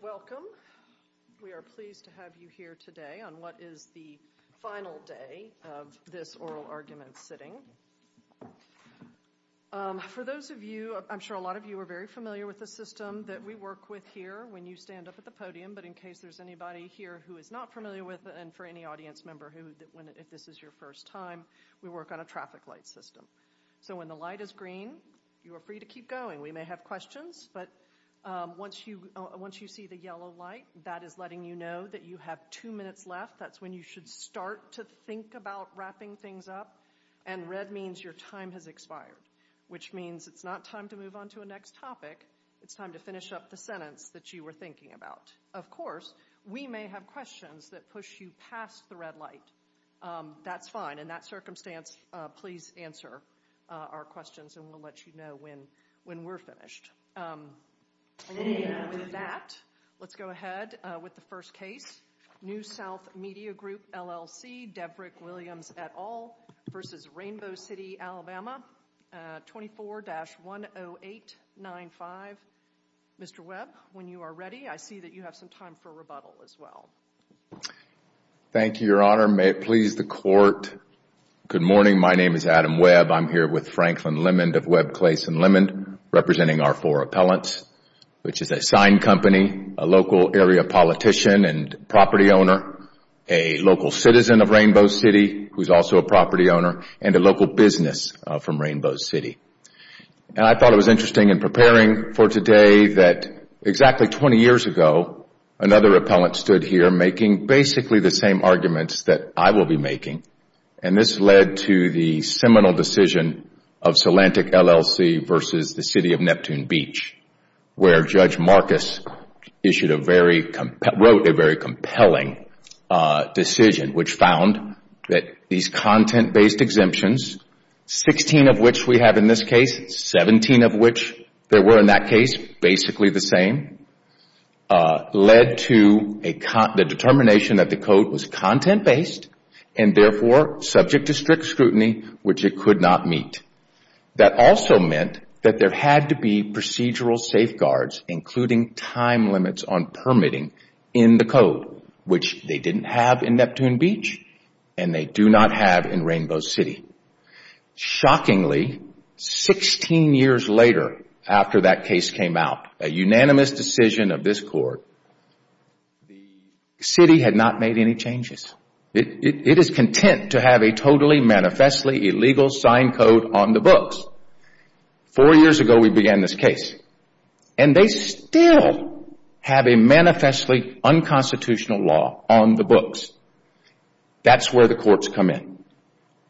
Welcome. We are pleased to have you here today on what is the final day of this oral argument sitting. For those of you, I'm sure a lot of you are very familiar with the system that we work with here when you stand up at the podium, but in case there's anybody here who is not familiar with it and for any audience member, if this is your first time, we work on a traffic light system. So when the light is green, you are free to keep going. We may have questions, but once you see the yellow light, that is letting you know that you have two minutes left. That's when you should start to think about wrapping things up. And red means your time has expired, which means it's not time to move on to a next topic. It's time to finish up the sentence that you were thinking about. Of course, we may have questions that push you past the red light. That's fine. In that circumstance, please answer our questions and we'll let you know when we're finished. And with that, let's go ahead with the first case. New South Media Group, LLC, Debrick Williams et al. versus Rainbow City, Alabama. 24-10895. Mr. Webb, when you are ready, I see that you have some time for rebuttal as well. Thank you, Your Honor. May it please the court. Good morning, my name is Adam Webb. I'm here with Franklin Lemond of Webb, Clayson, Lemond, representing our four appellants, which is a sign company, a local area politician and property owner, a local citizen of Rainbow City, who's also a property owner, and a local business from Rainbow City. And I thought it was interesting in preparing for today that exactly 20 years ago, another appellant stood here making basically the same arguments that I will be making. And this led to the seminal decision of Salantic, LLC versus the City of Neptune Beach, where Judge Marcus wrote a very compelling decision which found that these content-based exemptions, 16 of which we have in this case, 17 of which there were in that case, basically the same, led to the determination that the code was content-based and therefore subject to strict scrutiny, which it could not meet. That also meant that there had to be procedural safeguards, including time limits on permitting in the code, which they didn't have in Neptune Beach and they do not have in Rainbow City. Shockingly, 16 years later after that case came out, a unanimous decision of this court, the city had not made any changes. It is content to have a totally manifestly illegal sign code on the books. Four years ago we began this case and they still have a manifestly unconstitutional law on the books. That's where the courts come in.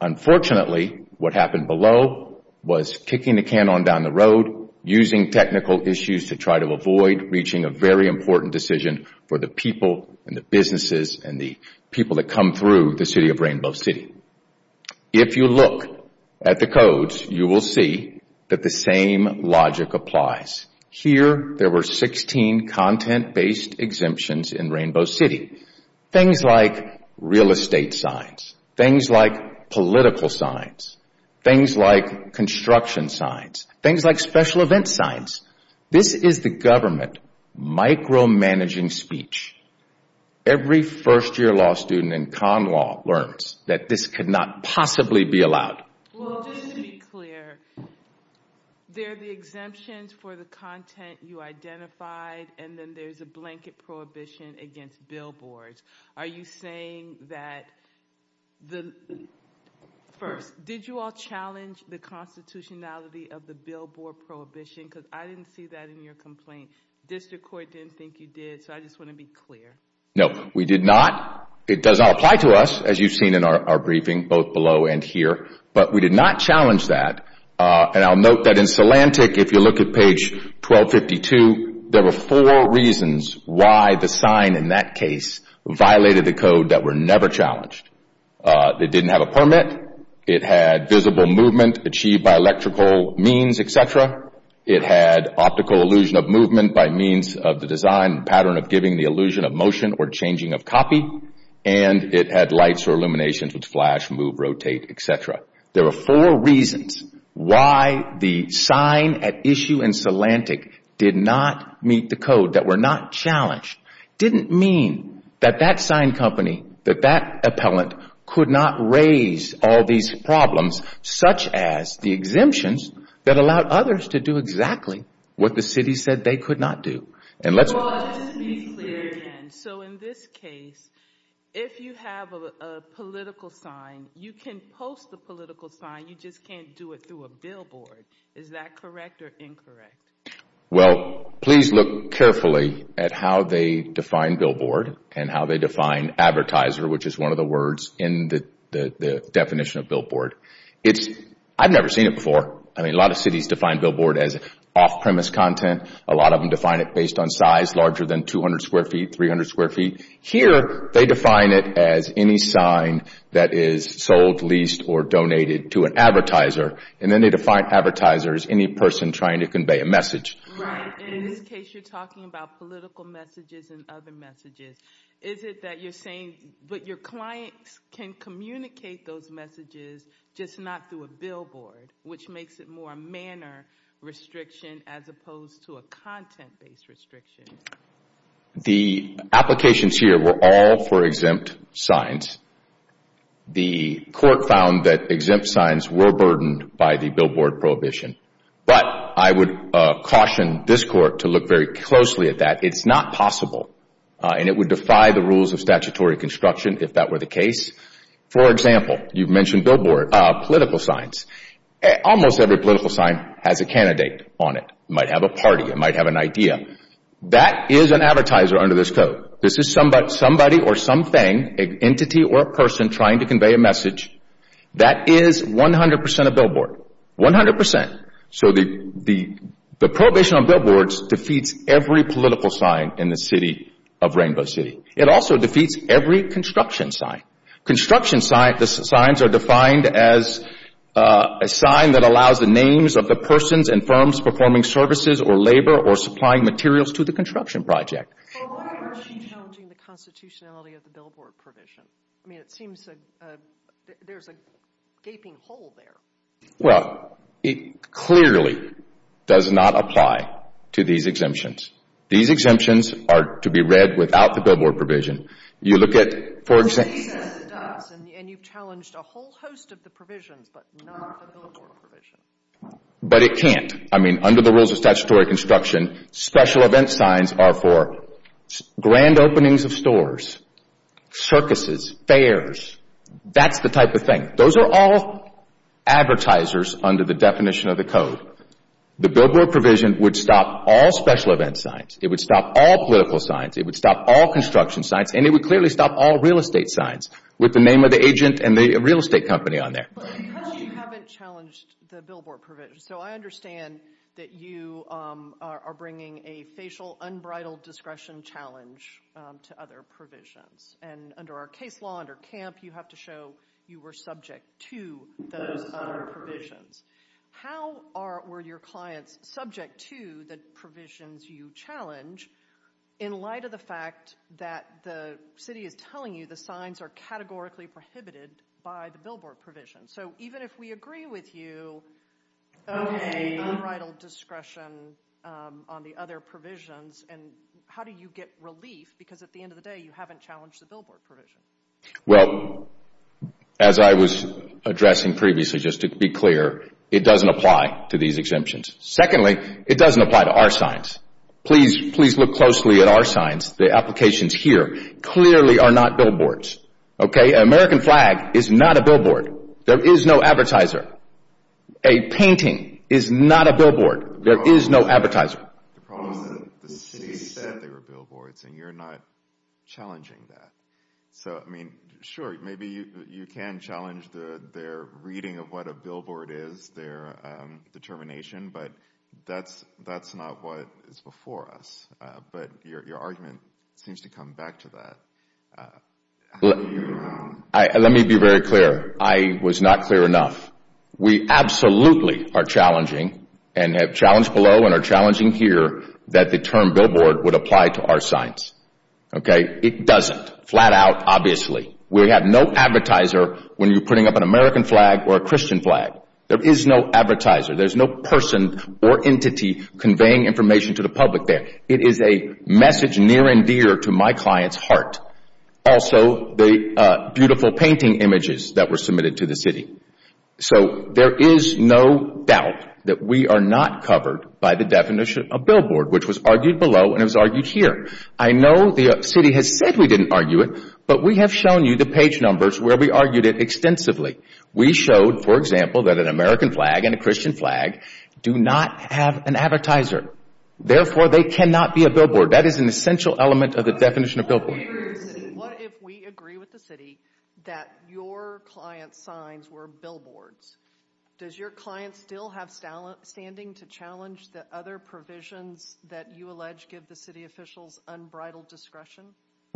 Unfortunately, what happened below was kicking the can on down the road, using technical issues to try to avoid reaching a very important decision for the people and the businesses and the people that come through the city of Rainbow City. If you look at the codes, you will see that the same logic applies. Here, there were 16 content-based exemptions in Rainbow City. Things like real estate signs, things like political signs, things like construction signs, things like special event signs. This is the government micromanaging speech. Every first-year law student in con law learns that this could not possibly be allowed. Well, just to be clear, there are the exemptions for the content you identified and then there's a blanket prohibition against billboards. Are you saying that the, first, did you all challenge the constitutionality of the billboard prohibition? Because I didn't see that in your complaint. District Court didn't think you did, so I just want to be clear. No, we did not. It does not apply to us, as you've seen in our briefing, both below and here. But we did not challenge that. And I'll note that in Solantic, if you look at page 1252, there were four reasons why the sign in that case violated the code that were never challenged. It didn't have a permit. It had visible movement achieved by electrical means, etc. It had optical illusion of movement by means of the design pattern of giving the illusion of motion or changing of copy. And it had lights or illuminations which flash, move, rotate, etc. There were four reasons why the sign at issue in Solantic did not meet the code, that were not challenged. Didn't mean that that sign company, that that appellant could not raise all these problems, such as the exemptions that allowed others to do exactly what the city said they could not do. And let's- Well, just to be clear again, so in this case, if you have a political sign, you can post the political sign, you just can't do it through a billboard. Is that correct or incorrect? Well, please look carefully at how they define billboard and how they define advertiser, which is one of the words in the definition of billboard. It's, I've never seen it before. I mean, a lot of cities define billboard as off-premise content. A lot of them define it based on size, larger than 200 square feet, 300 square feet. Here, they define it as any sign that is sold, leased, or donated to an advertiser. And then they define advertiser as any person trying to convey a message. Right, and in this case, you're talking about political messages and other messages. Is it that you're saying, but your clients can communicate those messages just not through a billboard, which makes it more manner restriction as opposed to a content-based restriction? The applications here were all for exempt signs. The court found that exempt signs were burdened by the billboard prohibition. But I would caution this court to look very closely at that. It's not possible. And it would defy the rules of statutory construction if that were the case. For example, you've mentioned political signs. Almost every political sign has a candidate on it. It might have a party, it might have an idea. That is an advertiser under this code. This is somebody or something, an entity or a person trying to convey a message. That is 100% a billboard, 100%. So the prohibition on billboards defeats every political sign in the city of Rainbow City. It also defeats every construction sign. Construction signs are defined as a sign that allows the names of the persons and firms performing services or labor or supplying materials to the construction project. But why aren't you challenging the constitutionality of the billboard provision? I mean, it seems there's a gaping hole there. Well, it clearly does not apply to these exemptions. These exemptions are to be read without the billboard provision. You look at, for example... Well, it says it does, and you've challenged a whole host of the provisions, but not the billboard provision. But it can't. I mean, under the rules of statutory construction, special event signs are for grand openings of stores, circuses, fairs, that's the type of thing. Those are all advertisers under the definition of the code. The billboard provision would stop all special event signs. It would stop all political signs. It would stop all construction signs, and it would clearly stop all real estate signs with the name of the agent and the real estate company on there. But because you haven't challenged the billboard provision, so I understand that you are bringing a facial unbridled discretion challenge to other provisions. And under our case law, under CAMP, you have to show you were subject to those other provisions. How were your clients subject to the provisions you challenge in light of the fact that the city is telling you the signs are categorically prohibited by the billboard provision? So even if we agree with you, okay, unbridled discretion on the other provisions, and how do you get relief? Because at the end of the day, you haven't challenged the billboard provision. Well, as I was addressing previously, just to be clear, it doesn't apply to these exemptions. Secondly, it doesn't apply to our signs. Please look closely at our signs. The applications here clearly are not billboards. Okay, an American flag is not a billboard. There is no advertiser. A painting is not a billboard. There is no advertiser. The problem is that the city said they were billboards and you're not challenging that. So, I mean, sure, maybe you can challenge their reading of what a billboard is, their determination, but that's not what is before us. But your argument seems to come back to that. Let me be very clear. I was not clear enough. We absolutely are challenging, and have challenged below and are challenging here, that the term billboard would apply to our signs. Okay, it doesn't, flat out, obviously. We have no advertiser when you're putting up an American flag or a Christian flag. There is no advertiser. There is no person or entity conveying information to the public there. It is a message near and dear to my client's heart. Also, the beautiful painting images that were submitted to the city. So, there is no doubt that we are not covered by the definition of billboard, which was argued below and was argued here. I know the city has said we didn't argue it, but we have shown you the page numbers where we argued it extensively. We showed, for example, that an American flag and a Christian flag do not have an advertiser. Therefore, they cannot be a billboard. That is an essential element of the definition of billboard. What if we agree with the city that your client's signs were billboards? Does your client still have standing to challenge the other provisions that you allege give the city officials unbridled discretion?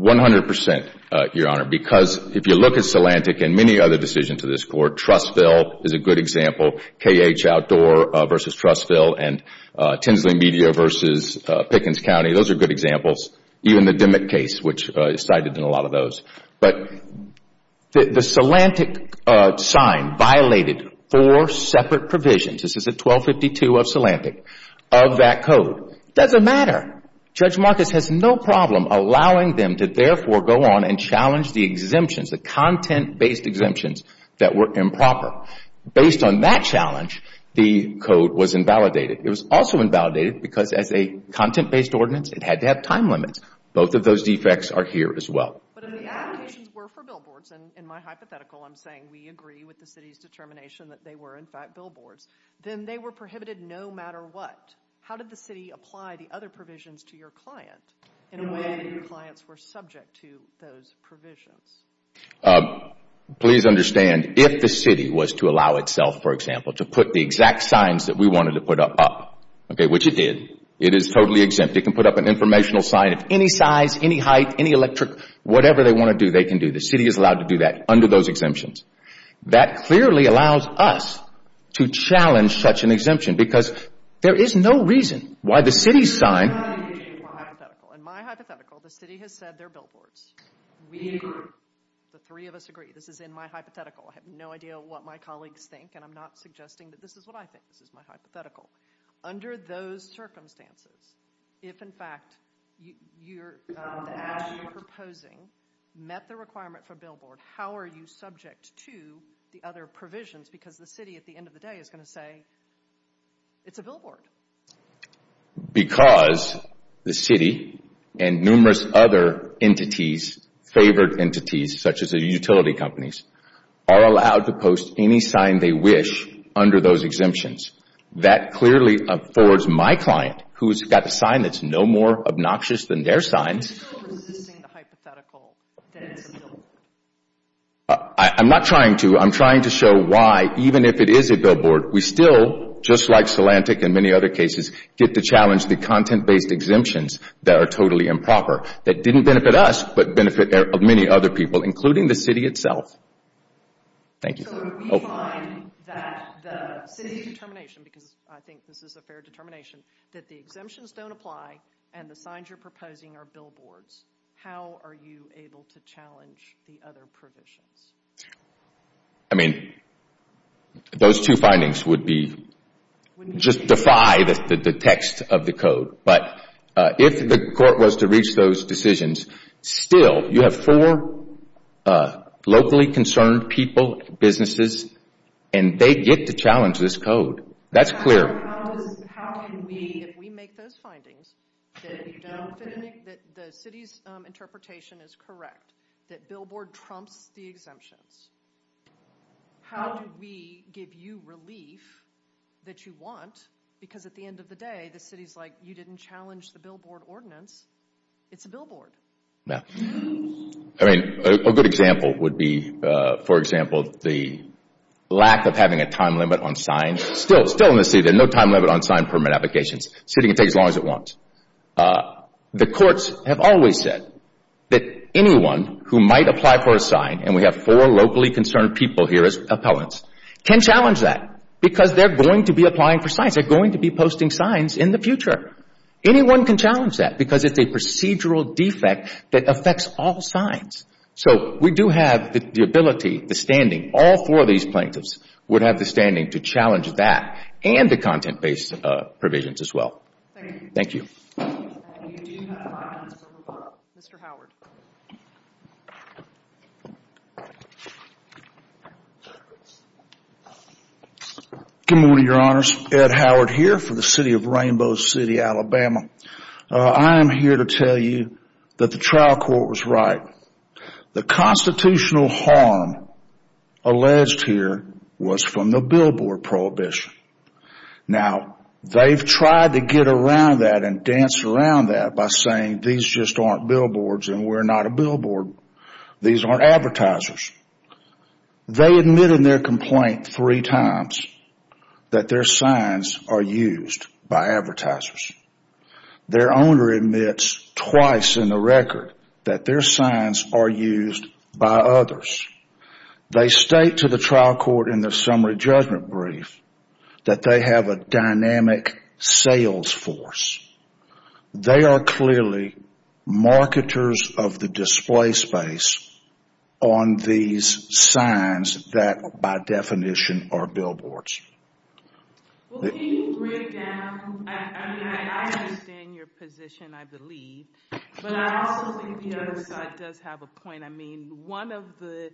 100%, Your Honor, because if you look at CELANTIC and many other decisions of this court, Trustville is a good example. KH Outdoor versus Trustville and Tinsley Media versus Pickens County, those are good examples. Even the Dimmick case, which is cited in a lot of those. But the CELANTIC sign violated four separate provisions. This is at 1252 of CELANTIC, of that code. Doesn't matter. Judge Marcus has no problem allowing them to therefore go on and challenge the exemptions, the content-based exemptions that were improper. Based on that challenge, the code was invalidated. It was also invalidated because as a content-based ordinance it had to have time limits. Both of those defects are here as well. But if the applications were for billboards, and in my hypothetical I'm saying we agree with the city's determination that they were in fact billboards, then they were prohibited no matter what. How did the city apply the other provisions to your client in a way that your clients were subject to those provisions? Please understand, if the city was to allow itself, for example, to put the exact signs that we wanted to put up, which it did, it is totally exempt. It can put up an informational sign of any size, any height, any electric, whatever they want to do, they can do. The city is allowed to do that under those exemptions. That clearly allows us to challenge such an exemption because there is no reason why the city's sign... In my hypothetical, the city has said they're billboards. We agree. The three of us agree. This is in my hypothetical. I have no idea what my colleagues think, and I'm not suggesting that this is what I think. This is my hypothetical. Under those circumstances, if in fact, you're proposing met the requirement for billboard, how are you subject to the other provisions? Because the city at the end of the day is going to say, it's a billboard. Because the city and numerous other entities, favored entities, such as the utility companies, are allowed to post any sign they wish under those exemptions. That clearly affords my client, who's got a sign that's no more obnoxious than their sign. You're still resisting the hypothetical. Then still. I'm not trying to. I'm trying to show why, even if it is a billboard, we still, just like Solantic and many other cases, get to challenge the content-based exemptions that are totally improper, that didn't benefit us, but benefit many other people, including the city itself. Thank you. So we find that the city's determination, because I think this is a fair determination, that the exemptions don't apply and the signs you're proposing are billboards. How are you able to challenge the other provisions? I mean, those two findings would be, just defy the text of the code. But if the court was to reach those decisions, still, you have four locally concerned people, businesses, and they get to challenge this code. That's clear. How can we, if we make those findings, that we don't think that the city's interpretation is correct, that billboard trumps the exemptions, how do we give you relief that you want? Because at the end of the day, the city's like, you didn't challenge the billboard ordinance. It's a billboard. No. I mean, a good example would be, for example, the lack of having a time limit on signs. Still, still in the city, there's no time limit on sign permit applications. City can take as long as it wants. The courts have always said that anyone who might apply for a sign, and we have four locally concerned people here as appellants, can challenge that because they're going to be applying for signs. They're going to be posting signs in the future. Anyone can challenge that because it's a procedural defect that affects all signs. So we do have the ability, the standing, all four of these plaintiffs would have the standing to challenge that and the content-based provisions as well. Thank you. Good morning, your honors. Ed Howard here for the city of Rainbow City, Alabama. I am here to tell you that the trial court was right. The constitutional harm alleged here was from the billboard prohibition. Now, they've tried to get around that and dance around that by saying these just aren't billboards and we're not a billboard. These aren't advertisers. They admitted in their complaint three times that their signs are used by advertisers. Their owner admits twice in the record that their signs are used by others. They state to the trial court in the summary judgment brief that they have a dynamic sales force. They are clearly marketers of the display space on these signs that, by definition, are billboards. Well, can you break down, I mean, I understand your position, I believe, but I also think the other side does have a point. One of the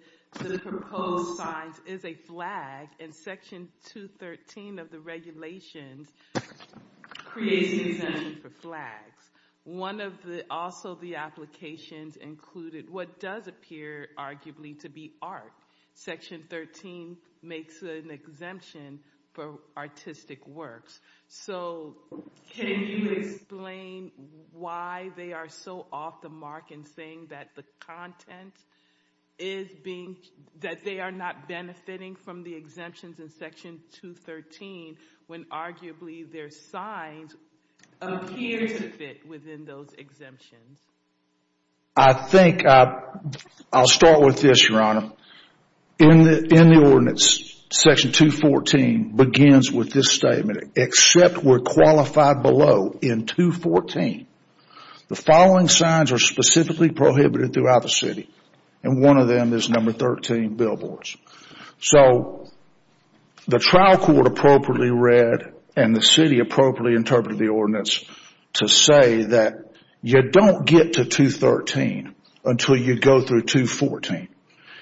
proposed signs is a flag and section 213 of the regulations creates an exemption for flags. One of the, also the applications included what does appear, arguably, to be art. Section 13 makes an exemption for artistic works. So can you explain why they are so off the mark in saying that the content is being, that they are not benefiting from the exemptions in section 213 when, arguably, their signs appear to fit within those exemptions? I think I'll start with this, Your Honor. In the ordinance, section 214 begins with this statement. Except we're qualified below in 214, the following signs are specifically prohibited throughout the city. And one of them is number 13, billboards. So the trial court appropriately read and the city appropriately interpreted the ordinance to say that you don't get to 213 until you go through 214.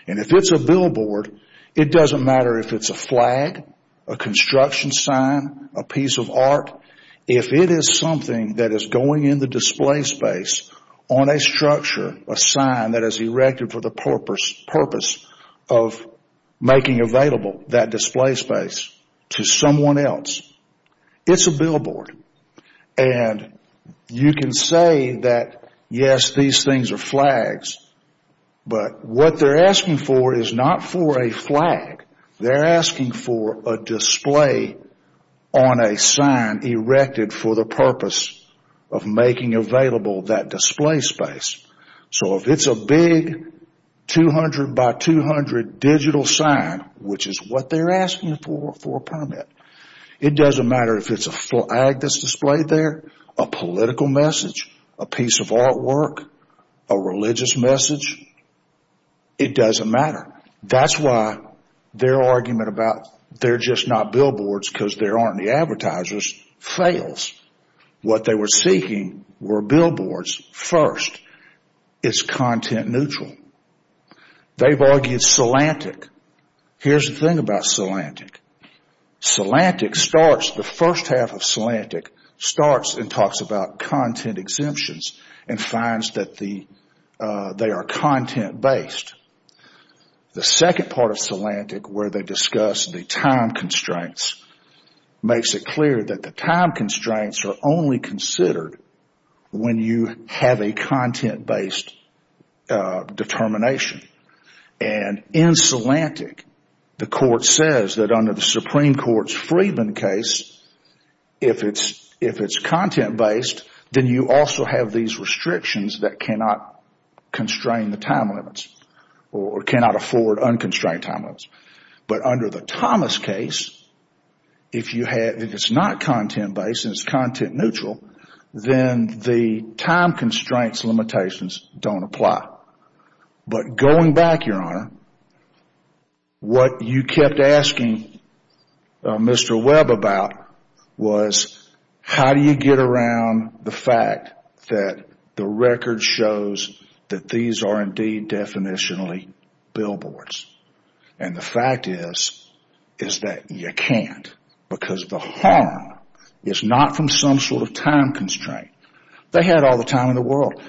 And if it's a billboard, it doesn't matter if it's a flag, a construction sign, a piece of art. If it is something that is going in the display space on a structure, a sign that is erected for the purpose of making available that display space to someone else, it's a billboard. And you can say that, yes, these things are flags, but what they're asking for is not for a flag. They're asking for a display on a sign erected for the purpose of making available that display space. So if it's a big 200 by 200 digital sign, which is what they're asking for, for a permit, it doesn't matter if it's a flag that's displayed there, a political message, a piece of artwork, a religious message, it doesn't matter. That's why their argument about they're just not billboards because there aren't any advertisers fails. What they were seeking were billboards first. It's content neutral. They've argued CELANTIC. Here's the thing about CELANTIC. CELANTIC starts, the first half of CELANTIC starts and talks about content exemptions and finds that they are content based. The second part of CELANTIC where they discuss the time constraints makes it clear that the time constraints are only considered when you have a content based determination. And in CELANTIC, the court says that under the Supreme Court's Freedman case, if it's content based, then you also have these restrictions that cannot constrain the time limits or cannot afford unconstrained time limits. But under the Thomas case, if it's not content based and it's content neutral, then the time constraints limitations don't apply. But going back, Your Honor, what you kept asking Mr. Webb about was how do you get around the fact that the record shows that these are indeed definitionally billboards? And the fact is, is that you can't because the harm is not from some sort of time constraint. They had all the time in the world.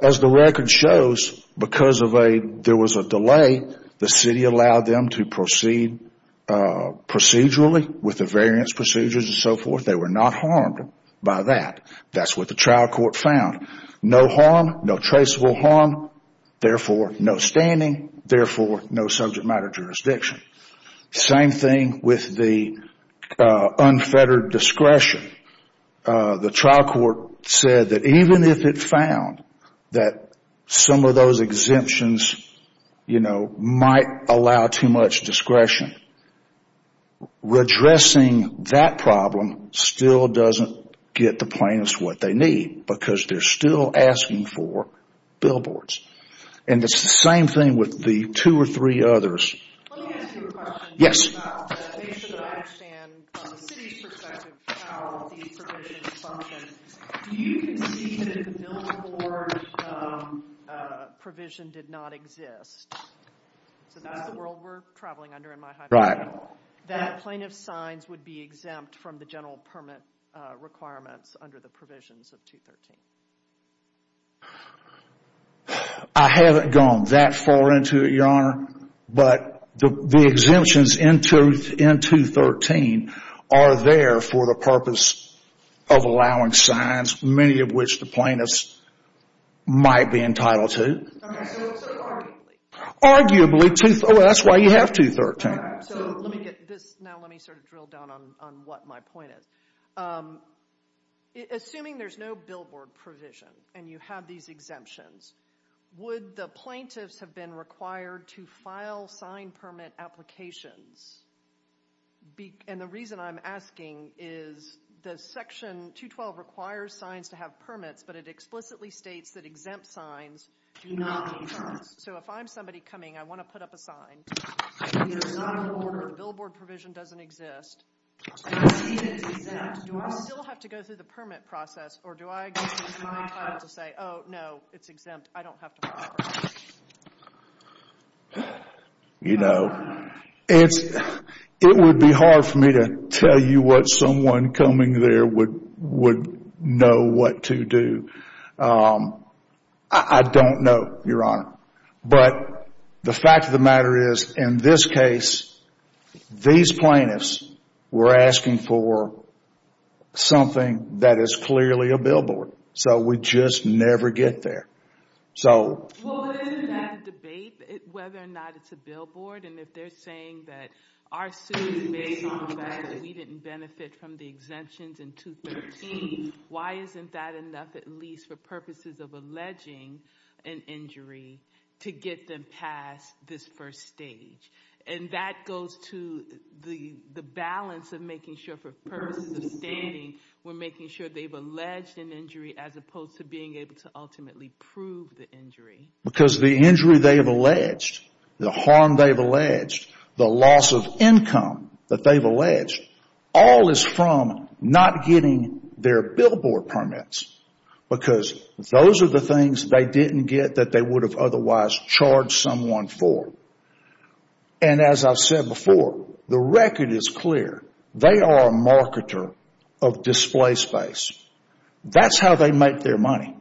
As the record shows, because there was a delay, the city allowed them to proceed procedurally with the variance procedures and so forth. They were not harmed by that. That's what the trial court found. No harm, no traceable harm, therefore no standing, therefore no subject matter jurisdiction. Same thing with the unfettered discretion. The trial court said that even if it found that some of those exemptions might allow too much discretion, redressing that problem still doesn't get the plaintiffs what they need because they're still asking for billboards. And it's the same thing with the two or three others. Let me ask you a question. Based on what I understand from the city's perspective of how these provisions function, do you concede that the billboard provision did not exist? So that's the world we're traveling under in my hypothesis. Right. That plaintiff's signs would be exempt from the general permit requirements under the provisions of 213. I haven't gone that far into it, Your Honor, but the exemptions in 213 are there for the purpose of allowing signs, many of which the plaintiffs might be entitled to. Okay, so arguably. Arguably, that's why you have 213. So let me get this, now let me sort of drill down on what my point is. Assuming there's no billboard provision and you have these exemptions, would the plaintiffs have been required to file sign permit applications? And the reason I'm asking is the section 212 requires signs to have permits, but it explicitly states that exempt signs do not exist. So if I'm somebody coming, I want to put up a sign. It is not in order, the billboard provision doesn't exist. Do I still have to go through the permit process, or do I have to say, oh, no, it's exempt, I don't have to file for it? You know, it would be hard for me to tell you what someone coming there would know what to do. I don't know, Your Honor. But the fact of the matter is, in this case, these plaintiffs were asking for something that is clearly a billboard. So we just never get there. So... Well, isn't that a debate, whether or not it's a billboard? And if they're saying that our suit is based on the fact that we didn't benefit from the exemptions in 213, why isn't that enough, at least for purposes of alleging an injury, to get them past this first stage? And that goes to the balance of making sure for purposes of standing, we're making sure they've alleged an injury, as opposed to being able to ultimately prove the injury. Because the injury they have alleged, the harm they've alleged, the loss of income that they've alleged, all is from not getting their billboard permits. Because those are the things they didn't get that they would have otherwise charged someone for. And as I've said before, the record is clear. They are a marketer of display space. That's how they make their money.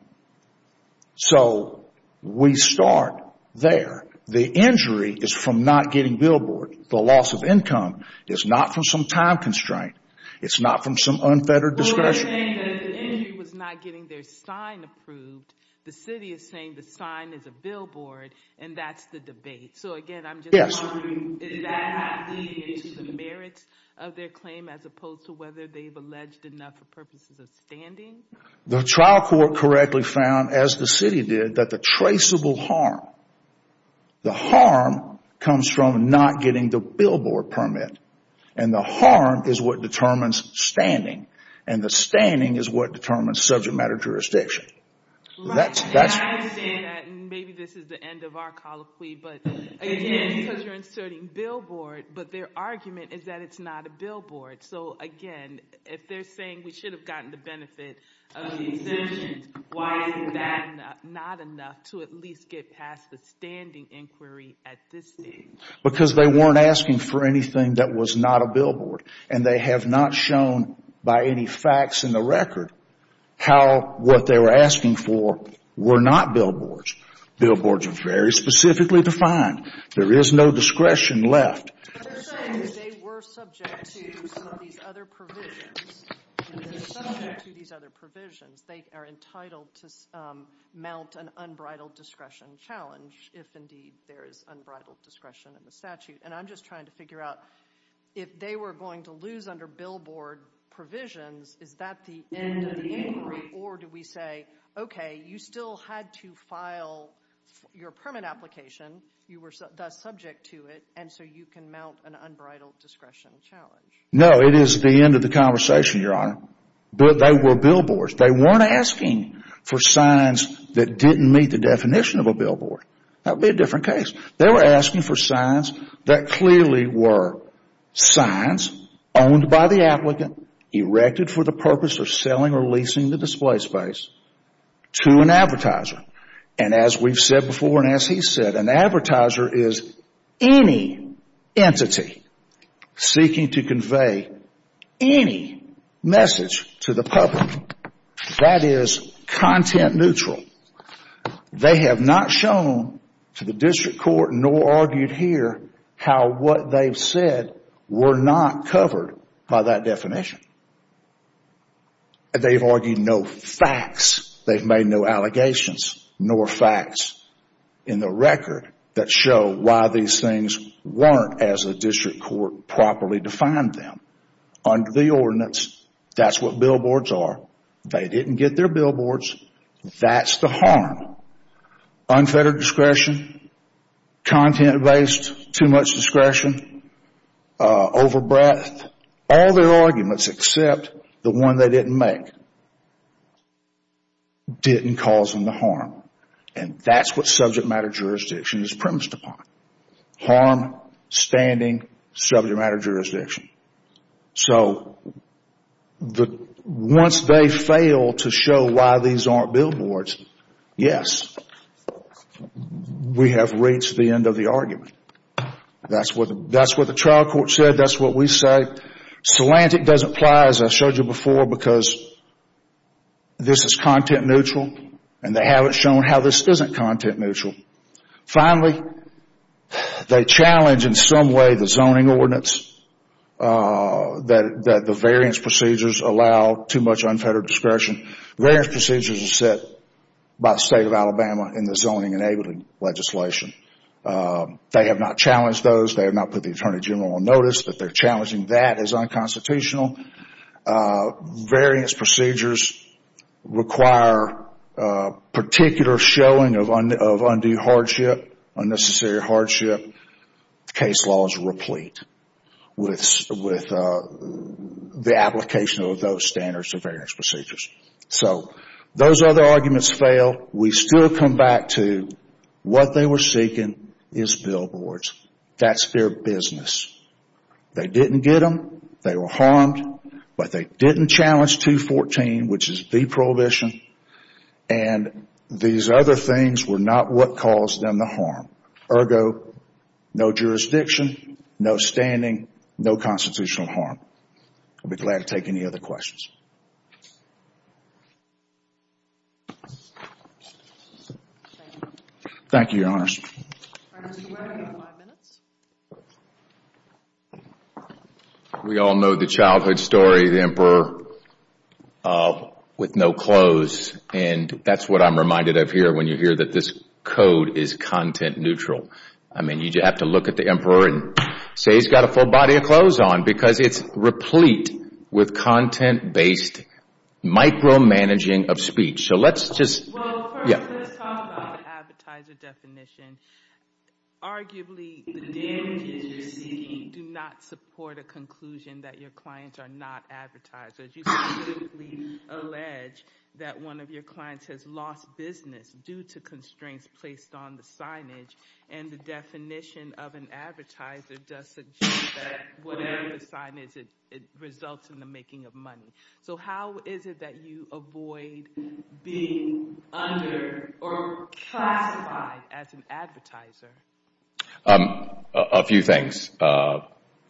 So we start there. The injury is from not getting billboard. The loss of income is not from some time constraint. It's not from some unfettered discretion. Well, you're saying that the injury was not getting their sign approved. The city is saying the sign is a billboard, and that's the debate. So again, I'm just wondering, is that not leading to the merits of their claim, as opposed to whether they've alleged enough for purposes of standing? The trial court correctly found, as the city did, that the traceable harm, the harm comes from not getting the billboard permit. And the harm is what determines standing. And the standing is what determines subject matter jurisdiction. That's- And I understand that, and maybe this is the end of our colloquy, but again, because you're inserting billboard, but their argument is that it's not a billboard. So again, if they're saying we should have gotten the benefit of the exemptions, why is that not enough to at least get past the standing inquiry at this stage? Because they weren't asking for anything that was not a billboard. And they have not shown, by any facts in the record, how what they were asking for were not billboards. Billboards are very specifically defined. There is no discretion left. But they're saying that they were subject to some of these other provisions. If they're subject to these other provisions, they are entitled to mount an unbridled discretion challenge if indeed there is unbridled discretion in the statute. And I'm just trying to figure out if they were going to lose under billboard provisions, is that the end of the inquiry? Or do we say, okay, you still had to file your permit application, you were thus subject to it, and so you can mount an unbridled discretion challenge? No, it is the end of the conversation, Your Honor. But they were billboards. They weren't asking for signs that didn't meet the definition of a billboard. That would be a different case. They were asking for signs that clearly were signs owned by the applicant, erected for the purpose of selling or leasing the display space to an advertiser. And as we've said before and as he's said, an advertiser is any entity seeking to convey any message to the public that is content neutral. They have not shown to the district court nor argued here how what they've said were not covered by that definition. They've argued no facts, they've made no allegations nor facts in the record that show why these things weren't as the district court properly defined them. Under the ordinance, that's what billboards are. They didn't get their billboards, that's the harm. Unfettered discretion, content-based, too much discretion, over-breath, all their arguments except the one they didn't make, didn't cause them the harm. And that's what subject matter jurisdiction is premised upon. Harm, standing, subject matter jurisdiction. So once they fail to show why these aren't billboards, yes, we have reached the end of the argument. That's what the trial court said, that's what we say. Slantic doesn't apply, as I showed you before, because this is content neutral, and they haven't shown how this isn't content neutral. Finally, they challenge in some way the zoning ordinance, that the variance procedures allow too much unfettered discretion. Variance procedures are set by the state of Alabama in the zoning enabling legislation. They have not challenged those, they have not put the Attorney General on notice, but they're challenging that as unconstitutional. Variance procedures require particular showing of undue hardship, unnecessary hardship. Case laws replete with the application of those standards of variance procedures. So those other arguments fail. We still come back to what they were seeking is billboards. That's their business. They didn't get them, they were harmed, but they didn't challenge 214, which is the prohibition, and these other things were not what caused them the harm. Ergo, no jurisdiction, no standing, no constitutional harm. I'll be glad to take any other questions. Thank you, Your Honors. Your Honor, do we have another five minutes? We all know the childhood story, the emperor with no clothes, and that's what I'm reminded of here when you hear that this code is content neutral. I mean, you have to look at the emperor and say he's got a full body of clothes on, because it's replete with content-based micromanaging of speech. So let's just, yeah. Well, first, let's talk about the advertiser definition. Arguably, the damages you're seeking do not support a conclusion that your clients are not advertisers. You specifically allege that one of your clients has lost business due to constraints placed on the signage, and the definition of an advertiser does suggest that whatever the signage, it results in the making of money. So how is it that you avoid being under or classified as an advertiser? A few things.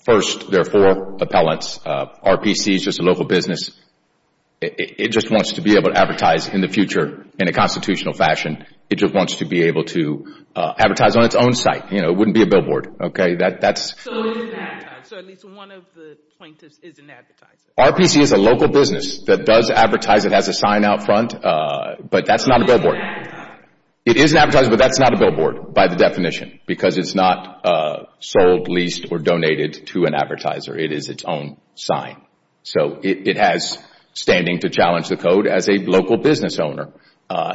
First, there are four appellants. RPC is just a local business. It just wants to be able to advertise in the future in a constitutional fashion. It just wants to be able to advertise on its own site. You know, it wouldn't be a billboard, okay? That's... So it's an advertiser. So at least one of the plaintiffs is an advertiser. RPC is a local business that does advertise. It has a sign out front, but that's not a billboard. It is an advertiser, but that's not a billboard by the definition because it's not sold, leased, or donated to an advertiser. It is its own sign. So it has standing to challenge the code as a local business owner.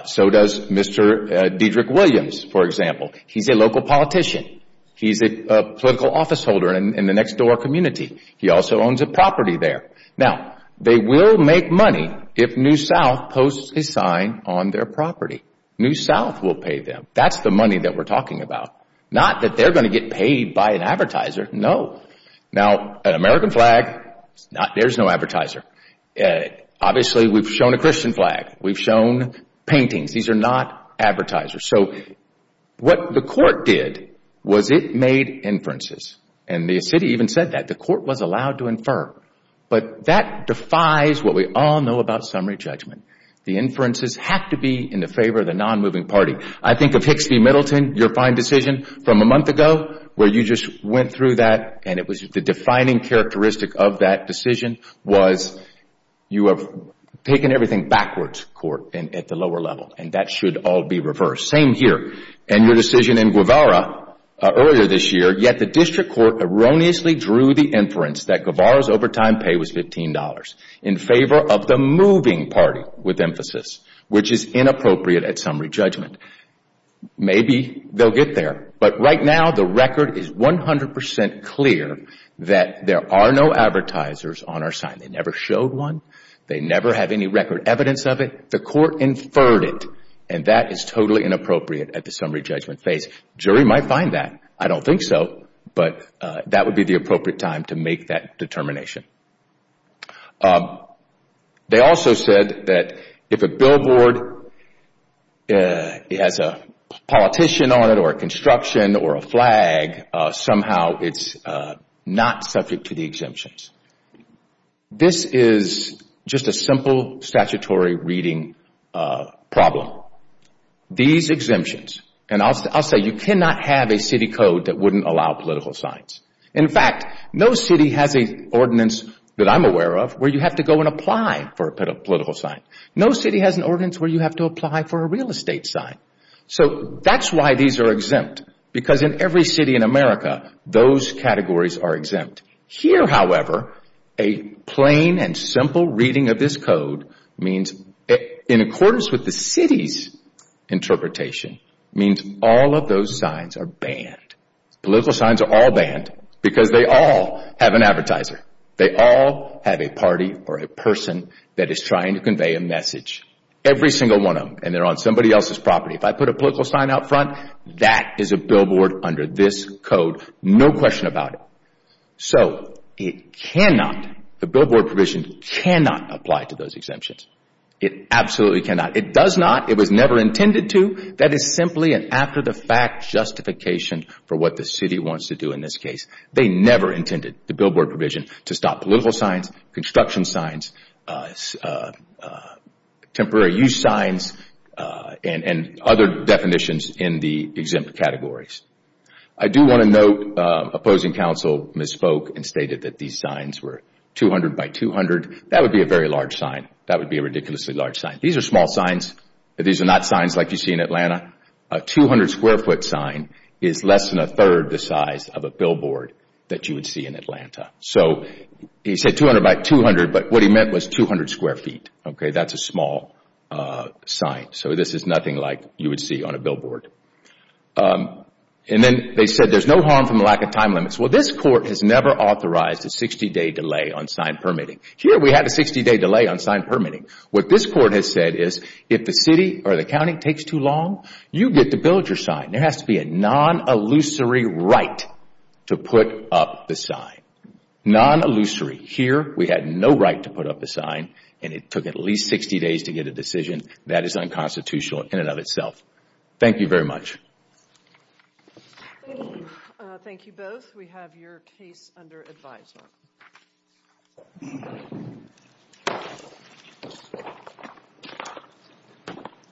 So does Mr. Dedrick Williams, for example. He's a local politician. He's a political office holder in the next door community. He also owns a property there. Now, they will make money if New South posts a sign on their property. New South will pay them. That's the money that we're talking about. Not that they're going to get paid by an advertiser, no. Now, an American flag, there's no advertiser. Obviously, we've shown a Christian flag. We've shown paintings. These are not advertisers. So what the court did was it made inferences, and the city even said that. The court was allowed to infer, but that defies what we all know about summary judgment. The inferences have to be in the favor of the non-moving party. I think of Hicks v. Middleton, your fine decision from a month ago where you just went through that and it was the defining characteristic of that decision was you have taken everything backwards, court, at the lower level, and that should all be reversed. Same here. And your decision in Guevara earlier this year, yet the district court erroneously drew the inference that Guevara's overtime pay was $15 in favor of the moving party with emphasis, which is inappropriate at summary judgment. Maybe they'll get there, but right now the record is 100% clear that there are no advertisers on our sign. They never showed one. They never have any record evidence of it. The court inferred it, and that is totally inappropriate at the summary judgment phase. Jury might find that. I don't think so, but that would be the appropriate time to make that determination. They also said that if a billboard has a politician on it or a construction or a flag, somehow it's not subject to the exemptions. This is just a simple statutory reading problem. These exemptions, and I'll say you cannot have a city code that wouldn't allow political signs. In fact, no city has an ordinance that I'm aware of where you have to go and apply for a political sign. No city has an ordinance where you have to apply for a real estate sign. So that's why these are exempt, because in every city in America, those categories are exempt. Here, however, a plain and simple reading of this code means in accordance with the city's interpretation, means all of those signs are banned. Political signs are all banned because they all have an advertiser. They all have a party or a person that is trying to convey a message. Every single one of them, and they're on somebody else's property. If I put a political sign out front, that is a billboard under this code. No question about it. So it cannot, the billboard provision cannot apply to those exemptions. It absolutely cannot. It does not. It was never intended to. That is simply an after-the-fact justification for what the city wants to do in this case. They never intended the billboard provision to stop political signs, construction signs, temporary use signs, and other definitions in the exempt categories. I do want to note opposing counsel misspoke and stated that these signs were 200 by 200. That would be a very large sign. That would be a ridiculously large sign. These are small signs. These are not signs like you see in Atlanta. A 200 square foot sign is less than a third the size of a billboard that you would see in Atlanta. So he said 200 by 200, but what he meant was 200 square feet. Okay, that's a small sign. So this is nothing like you would see on a billboard. And then they said there's no harm from a lack of time limits. Well, this court has never authorized a 60-day delay on sign permitting. Here we had a 60-day delay on sign permitting. What this court has said is if the city or the county takes too long, you get to build your sign. There has to be a non-illusory right to put up the sign. Non-illusory. Here we had no right to put up a sign and it took at least 60 days to get a decision. That is unconstitutional in and of itself. Thank you very much. Thank you both. We have your case under advisement. Thank you.